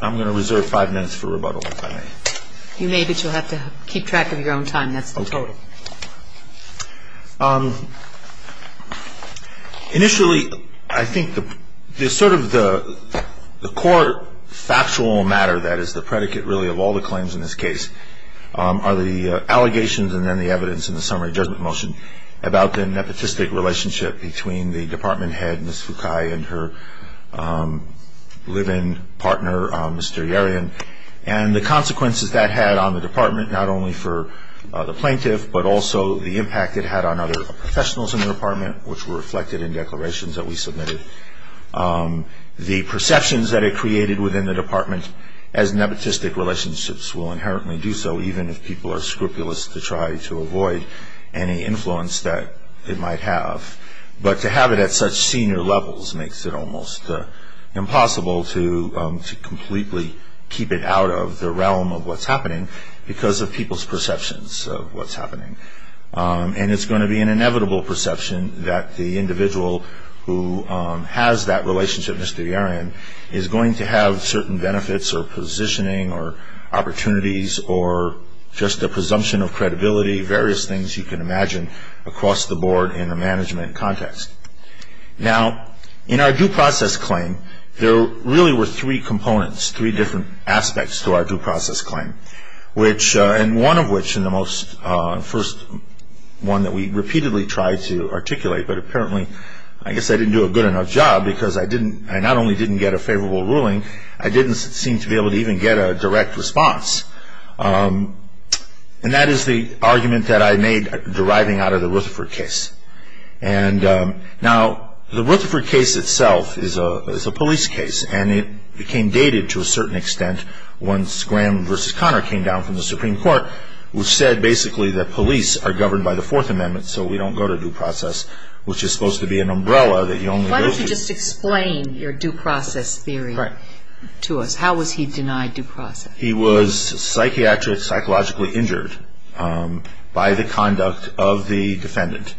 I'm going to reserve five minutes for rebuttal, if I may. You may, but you'll have to keep track of your own time. That's the total. Initially, I think the sort of the core factual matter that is the predicate, really, of all the claims in this case are the allegations and then the evidence in the summary judgment motion about the nepotistic relationship between the department head, Ms. Fukai, and her live-in partner, Mr. Yerian, and the consequences that had on the department, not only for the plaintiff, but also the impact it had on other professionals in the department, which were reflected in declarations that we submitted. The perceptions that it created within the department as nepotistic relationships will inherently do so, even if people are scrupulous to try to avoid any influence that it might have. But to have it at such senior levels makes it almost impossible to completely keep it out of the realm of what's happening because of people's perceptions of what's happening. And it's going to be an inevitable perception that the individual who has that relationship, Mr. Yerian, is going to have certain benefits or positioning or opportunities or just a presumption of credibility, various things you can imagine across the board in a management context. Now, in our due process claim, there really were three components, three different aspects to our due process claim, and one of which in the first one that we repeatedly tried to articulate, but apparently I guess I didn't do a good enough job because I not only didn't get a favorable ruling, I didn't seem to be able to even get a direct response. And that is the argument that I made deriving out of the Rutherford case. Now, the Rutherford case itself is a police case, and it became dated to a certain extent once Graham v. Connor came down from the Supreme Court, which said basically that police are governed by the Fourth Amendment, so we don't go to due process, which is supposed to be an umbrella that you only go to. Why don't you just explain your due process theory to us? How was he denied due process? He was psychiatrically, psychologically injured by the conduct of the defendant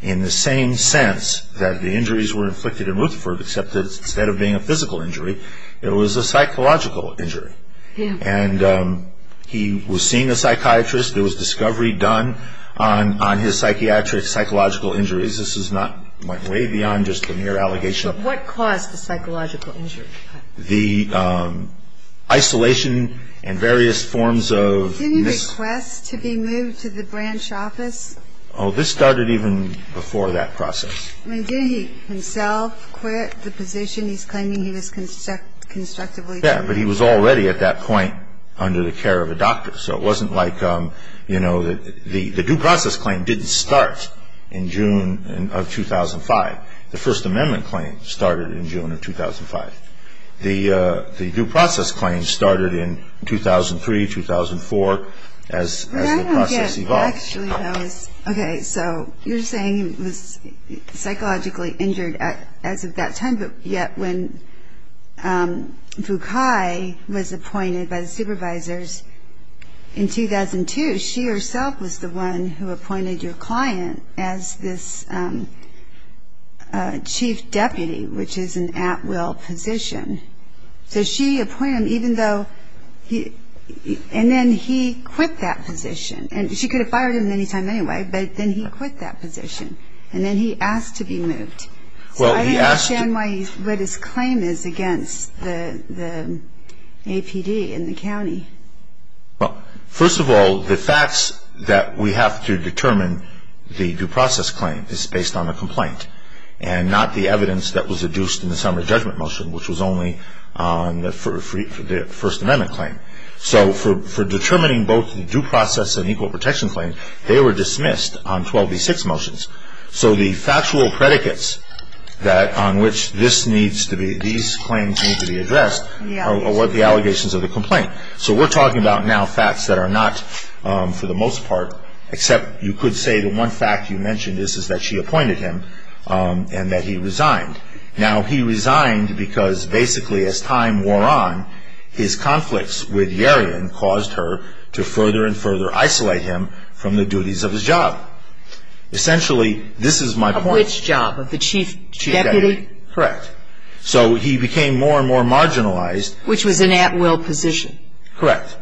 in the same sense that the injuries were inflicted in Rutherford, except that instead of being a physical injury, it was a psychological injury. And he was seen a psychiatrist. There was discovery done on his psychiatric, psychological injuries. This went way beyond just a mere allegation. But what caused the psychological injury? The isolation and various forms of... Didn't he request to be moved to the branch office? Oh, this started even before that process. Didn't he himself quit the position he's claiming he was constructively... Yeah, but he was already at that point under the care of a doctor. So it wasn't like, you know, the due process claim didn't start in June of 2005. The First Amendment claim started in June of 2005. The due process claim started in 2003, 2004, as the process evolved. I don't get... Actually, that was... Okay, so you're saying he was psychologically injured as of that time, but yet when Fukai was appointed by the supervisors in 2002, she herself was the one who appointed your client as this chief deputy, which is an at-will position. So she appointed him even though... And then he quit that position. And she could have fired him at any time anyway, but then he quit that position. And then he asked to be moved. So I don't understand what his claim is against the APD and the county. Well, first of all, the facts that we have to determine the due process claim is based on the complaint, and not the evidence that was adduced in the summary judgment motion, which was only on the First Amendment claim. So for determining both the due process and equal protection claim, they were dismissed on 12b-6 motions. So the factual predicates on which these claims need to be addressed are what the allegations of the complaint. So we're talking about now facts that are not, for the most part, except you could say the one fact you mentioned is that she appointed him and that he resigned. Now he resigned because basically as time wore on, his conflicts with Yarion caused her to further and further isolate him from the duties of his job. Essentially, this is my point. Of which job? Of the chief deputy? Correct. So he became more and more marginalized. Which was an at-will position. Correct.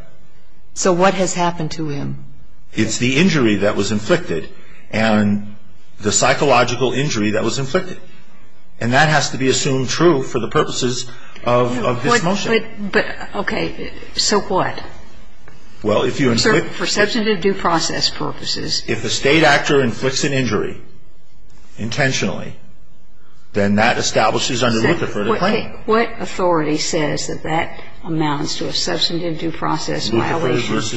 So what has happened to him? It's the injury that was inflicted and the psychological injury that was inflicted. And that has to be assumed true for the purposes of this motion. But, okay, so what? Well, if you inflict... Sir, for substantive due process purposes... If a State actor inflicts an injury, intentionally, then that establishes under Lutherford a claim. What authority says that that amounts to a substantive due process violation? It was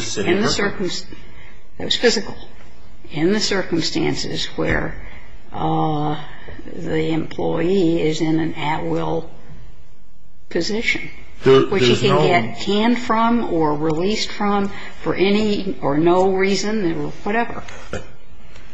physical. In the circumstances where the employee is in an at-will position. Which he can get canned from or released from for any or no reason, whatever.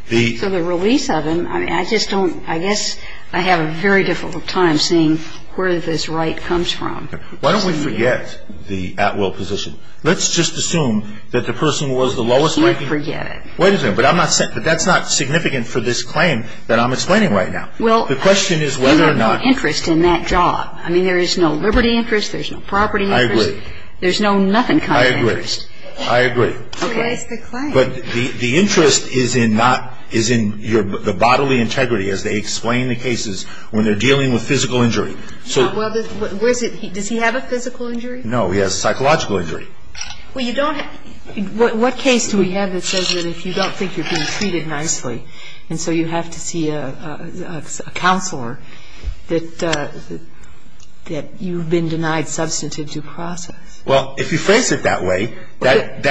So the release of him, I just don't... I guess I have a very difficult time seeing where this right comes from. Why don't we forget the at-will position? Let's just assume that the person was the lowest ranking... Let's forget it. Wait a second. But that's not significant for this claim that I'm explaining right now. The question is whether or not... Well, there's no interest in that job. I mean, there is no liberty interest. There's no property interest. I agree. There's no nothing kind of interest. I agree. I agree. So where's the claim? But the interest is in your bodily integrity as they explain the cases when they're dealing with physical injury. Does he have a physical injury? No. No, he has psychological injury. Well, you don't... What case do we have that says that if you don't think you're being treated nicely and so you have to see a counselor, that you've been denied substantive due process? Well, if you phrase it that way, that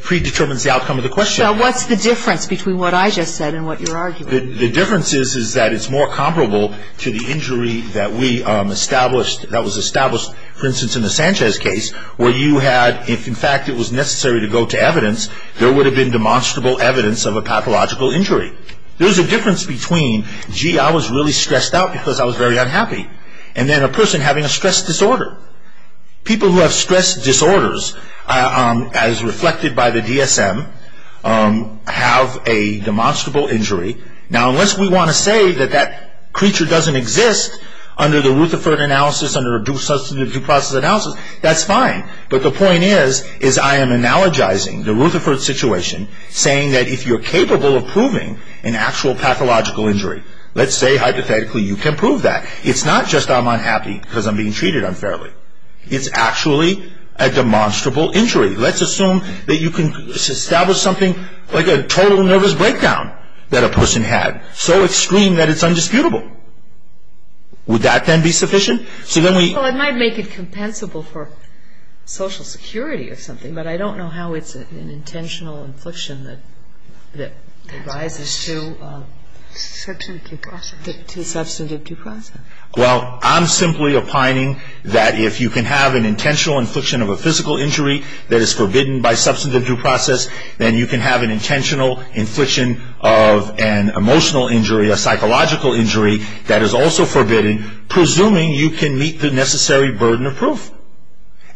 predetermines the outcome of the question. So what's the difference between what I just said and what you're arguing? The difference is that it's more comparable to the injury that we established, that was established, for instance, in the Sanchez case, where you had... If, in fact, it was necessary to go to evidence, there would have been demonstrable evidence of a pathological injury. There's a difference between, gee, I was really stressed out because I was very unhappy, and then a person having a stress disorder. People who have stress disorders, as reflected by the DSM, have a demonstrable injury. Now, unless we want to say that that creature doesn't exist under the Rutherford analysis, under a substantive due process analysis, that's fine. But the point is, is I am analogizing the Rutherford situation, saying that if you're capable of proving an actual pathological injury, let's say, hypothetically, you can prove that. It's not just I'm unhappy because I'm being treated unfairly. It's actually a demonstrable injury. Let's assume that you can establish something like a total nervous breakdown that a person had, so extreme that it's undisputable. Would that then be sufficient? Well, it might make it compensable for social security or something, but I don't know how it's an intentional infliction that rises to substantive due process. Well, I'm simply opining that if you can have an intentional infliction of a physical injury that is forbidden by substantive due process, then you can have an intentional infliction of an emotional injury, a psychological injury that is also forbidden, presuming you can meet the necessary burden of proof.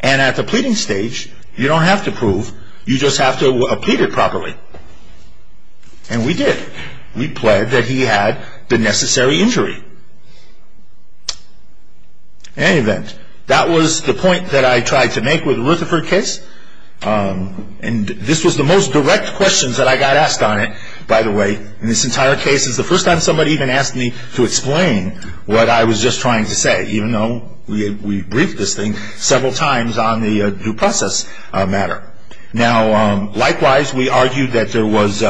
And at the pleading stage, you don't have to prove. You just have to plead it properly. And we did. We pled that he had the necessary injury. In any event, that was the point that I tried to make with the Rutherford case. And this was the most direct questions that I got asked on it, by the way, in this entire case. It's the first time somebody even asked me to explain what I was just trying to say, even though we briefed this thing several times on the due process matter. Now, likewise, we argued that there was,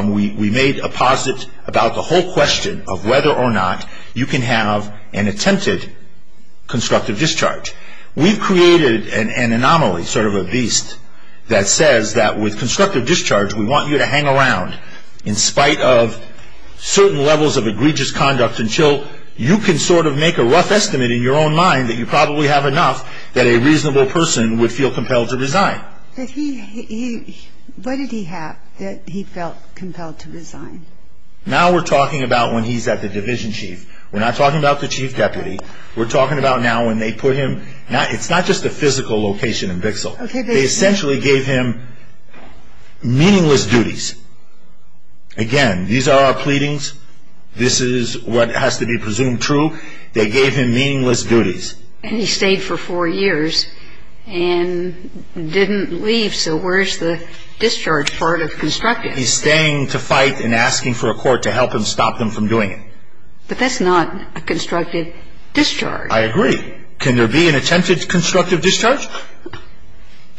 we made a posit about the whole question of whether or not you can have an attempted constructive discharge. We've created an anomaly, sort of a beast, that says that with constructive discharge, we want you to hang around in spite of certain levels of egregious conduct until you can sort of make a rough estimate in your own mind that you probably have enough that a reasonable person would feel compelled to resign. What did he have that he felt compelled to resign? Now we're talking about when he's at the division chief. We're not talking about the chief deputy. We're talking about now when they put him, it's not just a physical location in Bixle. They essentially gave him meaningless duties. Again, these are our pleadings. This is what has to be presumed true. They gave him meaningless duties. And he stayed for four years and didn't leave. So where's the discharge part of constructive? He's staying to fight and asking for a court to help him stop them from doing it. But that's not a constructive discharge. I agree. Can there be an attempted constructive discharge?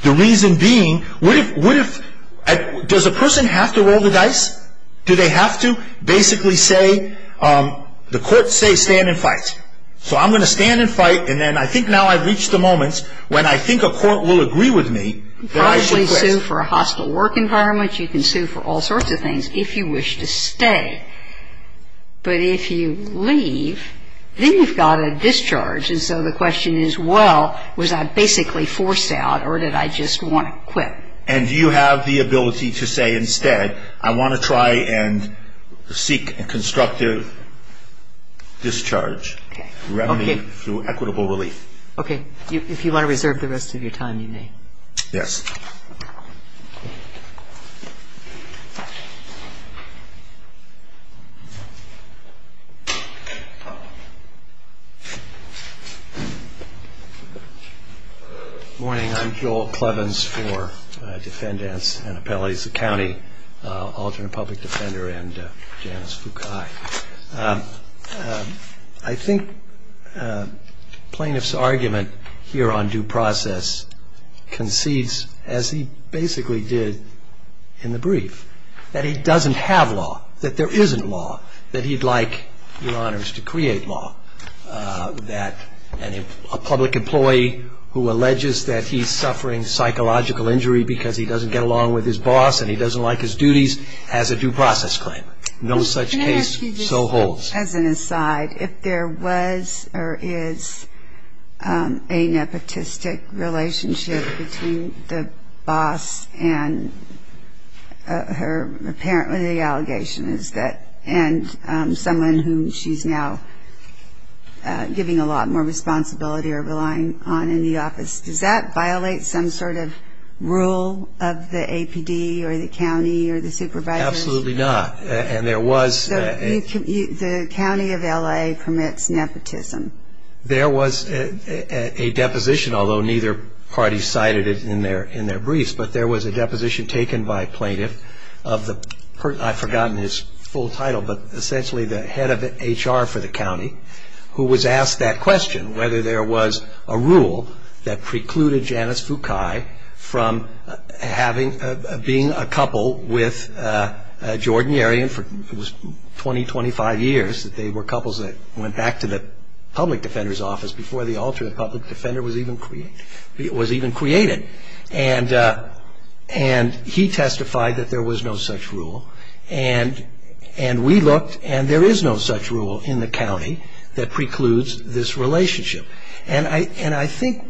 The reason being, what if, does a person have to roll the dice? Do they have to basically say, the courts say stand and fight. So I'm going to stand and fight and then I think now I've reached the moment when I think a court will agree with me that I should quit. You can probably sue for a hostile work environment. You can sue for all sorts of things if you wish to stay. But if you leave, then you've got a discharge. And so the question is, well, was I basically forced out or did I just want to quit? And do you have the ability to say instead, I want to try and seek a constructive discharge through equitable relief? Okay. If you want to reserve the rest of your time, you may. Yes. Morning. I'm Joel Clevens for Defendants and Appellates of County, Alternate Public Defender and Janice Foucault. I think plaintiff's argument here on due process concedes as he basically did in the brief, that there is a law, a present law, that he'd like, Your Honors, to create law. That a public employee who alleges that he's suffering psychological injury because he doesn't get along with his boss and he doesn't like his duties, has a due process claim. No such case, so holds. As an aside, if there was or is a nepotistic relationship between the boss and her parent, the allegation is that, and someone whom she's now giving a lot more responsibility or relying on in the office, does that violate some sort of rule of the APD or the county or the supervisor? Absolutely not. And there was... So the county of LA permits nepotism. There was a deposition, although neither party cited it in their briefs, but there was a deposition taken by a plaintiff of the... I've forgotten his full title, but essentially the head of HR for the county, who was asked that question, whether there was a rule that precluded Janice Foucault from being a couple with Jordan Yerian for 20, 25 years, that they were couples that went back to the public defender's office before the alternate public defender was even created. And he testified that there was no such rule. And we looked, and there is no such rule in the county that precludes this relationship. And I think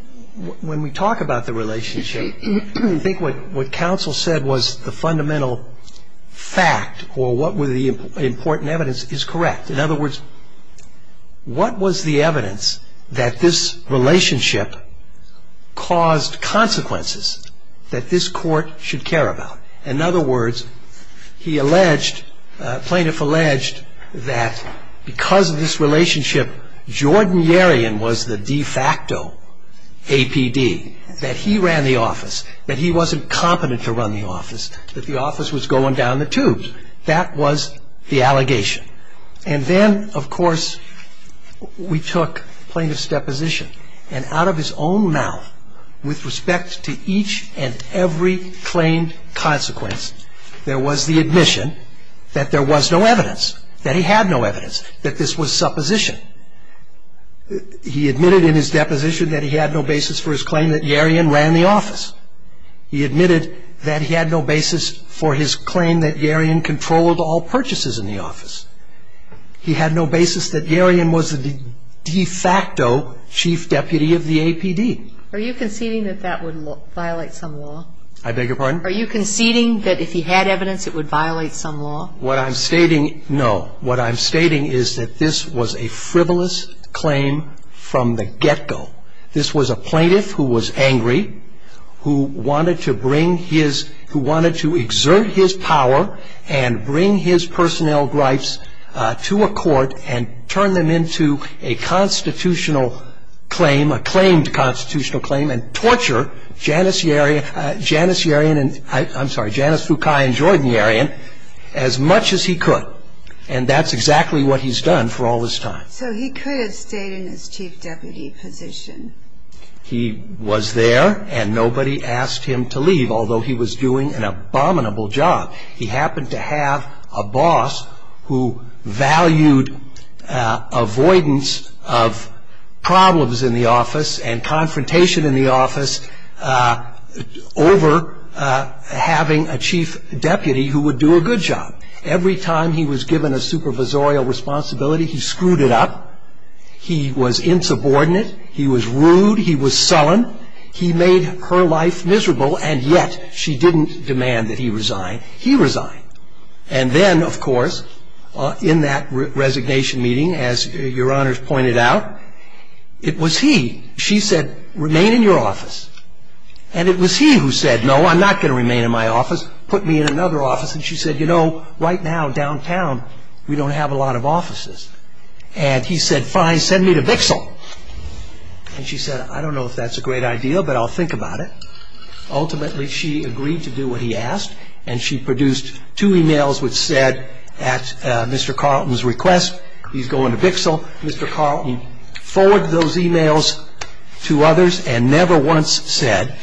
when we talk about the relationship, I think what counsel said was the fundamental fact or what were the important evidence is correct. In other words, what was the evidence that this relationship caused consequences that this court should care about? In other words, he alleged, plaintiff alleged, that because of this relationship, Jordan Yerian was the de facto APD, that he ran the office, that he wasn't competent to run the office, that the office was going down the tubes. That was the allegation. And then, of course, we took plaintiff's deposition and out of his own mouth, with respect to each and every claimed consequence, there was the admission that there was no evidence, that he had no evidence, that this was supposition. He admitted in his deposition that he had no basis for his claim that Yerian ran the office. He admitted that he had no basis for his claim that Yerian controlled all purchases in the office. He had no basis that Yerian was the de facto chief deputy of the APD. Are you conceding that that would violate some law? I beg your pardon? Are you conceding that if he had evidence it would violate some law? What I'm stating, no, what I'm stating is that this was a frivolous claim from the get-go. This was a plaintiff who was angry, who wanted to bring his, who wanted to exert his power and bring his personnel gripes to a court and turn them into a constitutional claim, a claimed constitutional claim and torture Janice Yerian Janice Yerian and, I'm sorry, Janice Foucault and Jordan Yerian as much as he could. And that's exactly what he's done for all this time. So he could have stayed in his chief deputy position? He was there and nobody asked him to leave although he was doing an abominable job. He happened to have a boss who valued avoidance of problems in the office and confrontation in the office over having a chief deputy who would do a good job. Every time he was given a supervisorial responsibility he screwed it up, he was insubordinate, he was rude, he was sullen, he made her life miserable and yet she didn't demand that he resign. He resigned. And then, of course, in that resignation meeting as your honors pointed out, it was he, she said, remain in your office. And it was he who said, no, I'm not going to remain in my office, put me in another office. And she said, you know, right now downtown we don't have a lot of offices. And he said, fine, send me to Bixel. And she said, I don't know if that's a great idea but I'll think about it. Ultimately, she agreed to do what he asked and she produced two emails which said at Mr. Carlton's request he's going to Bixel. Mr. Carlton forwarded those emails to others and never once said,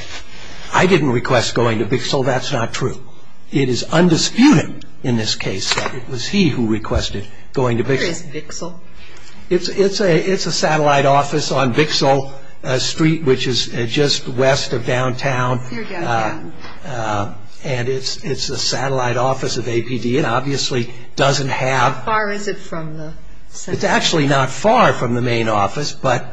I didn't request going to Bixel, that's not true. It is undisputed in this case that it was he who requested going to Bixel. Where is Bixel? It's a satellite office on Bixel Street which is just west of downtown and it's a satellite office of APD and obviously doesn't have How far is it from the center? It's actually not far from the main office but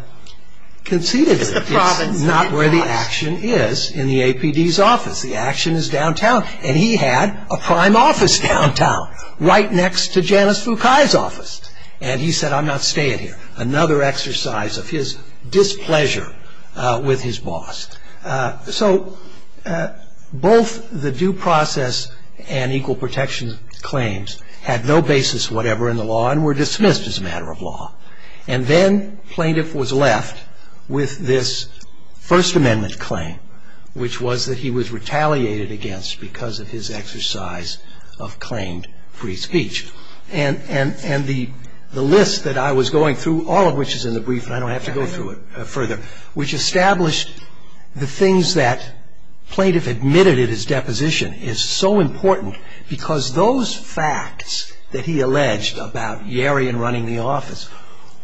conceded it is It's the province not where the action is in the APD's office. The action is downtown. And he had a prime office downtown right next to Janice Foucault's office. And he said, I'm not staying here. Another exercise of his displeasure with his boss. So both the due process and equal protection claims had no basis whatever in the law and were dismissed as a matter of law. And then plaintiff was left with this First Amendment claim which was that he was retaliated against because of his exercise of claimed free speech. And the list that I was going through all of which is in the brief and I don't have to go through it further which established the things that plaintiff admitted in his deposition is so important because those facts that he alleged about Yarian running the office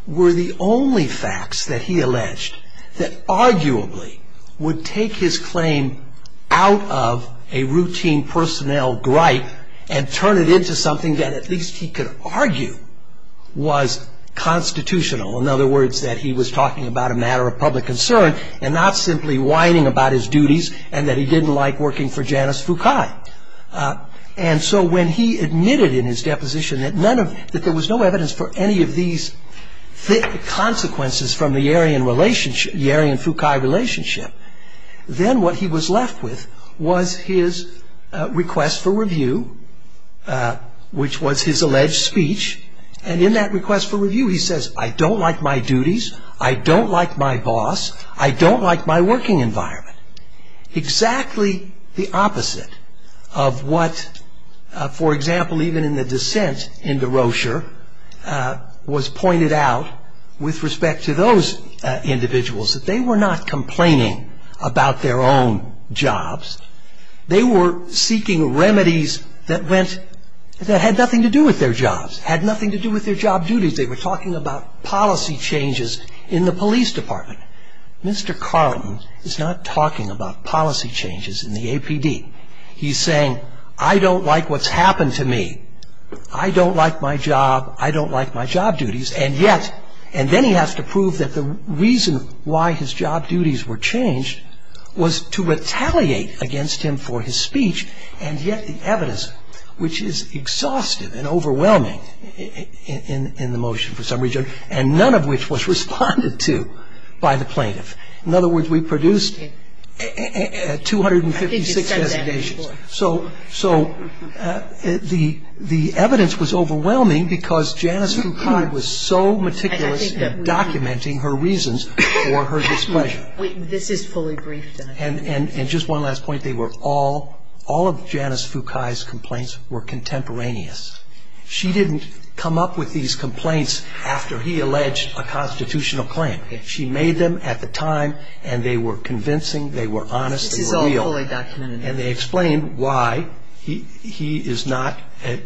were the only facts that he alleged that arguably would take his claim out of a routine personnel gripe and turn it into something that at least he could argue was constitutional. In other words that he was talking about a matter of public concern and not simply whining about his duties and that he didn't like working for Janice Foucault. And so when he admitted in his deposition that there was no evidence for any of these consequences from the Yarian-Foucault relationship then what he was left with was his request for review which was his alleged speech and in that request for review he says I don't like my duties I don't like my boss I don't like my working environment. Exactly the opposite of what for example even in the dissent into Rocher was pointed out with respect to those individuals that they were not complaining about their own jobs they were seeking remedies that went that had nothing to do with their jobs had nothing to do with their job duties they were talking about policy changes in the police department Mr. Carlton is not talking about policy changes in the APD he's saying I don't like what's happened to me I don't like my job I don't like my job duties and yet and then he has to prove that the reason why his job duties were changed was to retaliate against him for his speech and yet the evidence which is exhaustive and overwhelming in the motion for some reason and none of which was responded to by the plaintiff in other words we produced 256 designations so so the evidence was overwhelming because Janice Foucault was so meticulous in documenting her reasons for her displeasure and just one last point they were all all of Janice Foucault's complaints were contemporaneous she didn't come up with these complaints after he alleged a constitutional claim she made them at the time and they were convincing they were honest this is all fully and they explained why he is not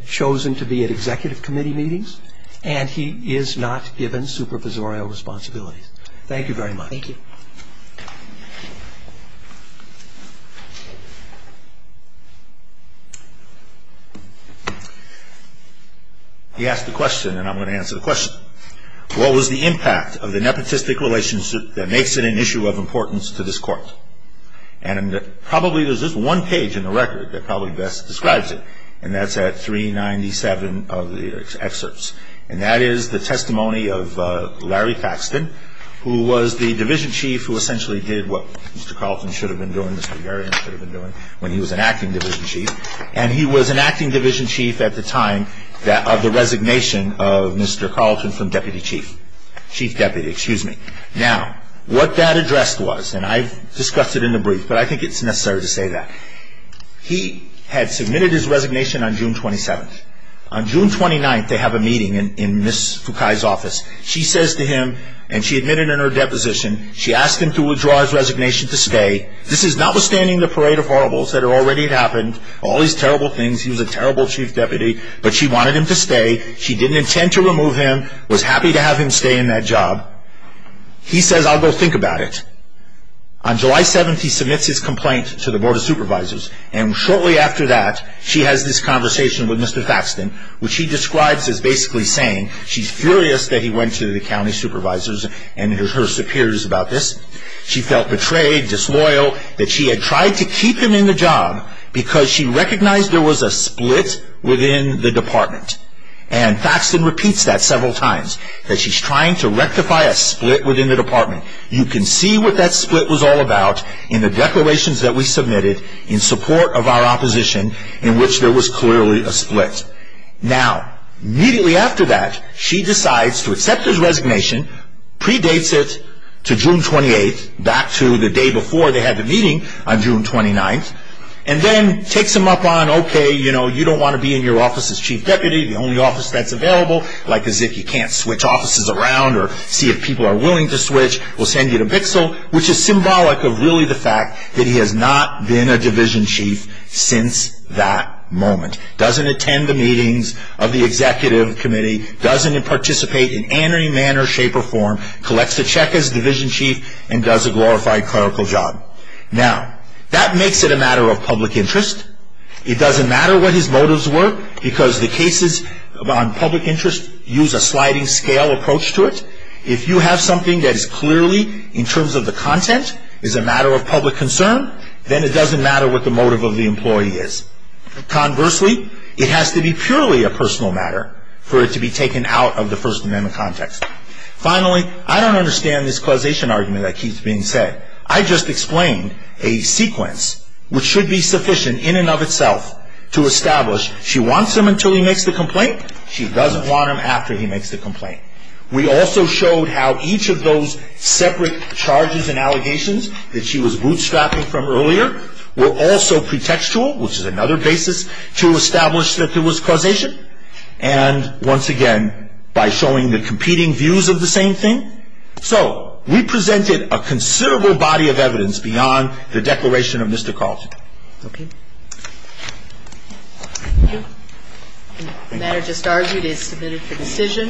chosen to be at executive committee meetings and he is not given supervisorial responsibilities thank you very much thank you he asked the question and I'm going to answer the question what was the impact of the nepotistic relationship that makes it an issue of importance to this court and probably there's this one page in the record that probably best describes it and that's at 397 of the excerpts and that is the testimony of Larry Paxton who was the division chief who essentially did what Mr. Carlton should have been doing when he was an acting division chief and he was an acting division chief at the time of the resignation of Mr. Carlton from deputy chief chief deputy excuse me now what that addressed was and I've discussed it in the brief but I think it's necessary to say that he had submitted his resignation on June 27th on June 29th they have a meeting in Miss Fukai's office she says to him and she admitted in her deposition she asked him to withdraw his resignation to stay this is notwithstanding the parade of horribles that had already happened all these terrible things he was a terrible chief deputy but she wanted him to stay she didn't intend to remove him was happy to have him stay in that job he says I'll go think about it on July 7th he submits his complaint to the board of supervisors and shortly after that she has this conversation with Mr. Thaxton which he describes as basically saying she's furious that he went to the county supervisors and her superiors about this she felt betrayed disloyal that she had tried to keep him in the job because she recognized there was a split within the department and Thaxton repeats that several times that she's trying to rectify a split within the department you can see what that split was all about in the declarations that we submitted in support of our opposition in which there was clearly a split now immediately after that she decides to accept his resignation predates it to June 28th back to the day before they had the meeting on June 29th and then takes him up on okay you know you don't want to be in your office as chief deputy the only office that's available like as if you can't switch offices around or see if people are willing to switch we'll send you the pixel which is symbolic of really the fact that he has not been a division chief since that moment doesn't attend the meetings of the executive committee doesn't participate in any manner shape or form collects a check as division chief and does a glorified clerical job now that makes it a matter of public interest it doesn't matter what his motives were because the cases on public interest use a sliding scale approach to it if you have something that is clearly in terms of the content is a matter of public concern then it doesn't matter what the motive of the employee is conversely it has to be purely a personal matter for it to be taken out of the First Amendment context finally I don't understand this causation argument that keeps being said I just explained a sequence which should be sufficient in and of itself to establish she wants him until he makes the complaint she doesn't want him after he makes the complaint we also showed how each of those separate charges and allegations that she was bootstrapping from earlier were also pretextual which is another basis to establish that there was causation and once again by showing the competing views of the same thing so we presented a considerable body of evidence beyond the declaration of Mr. Carlson Thank you The matter just argued is submitted for decision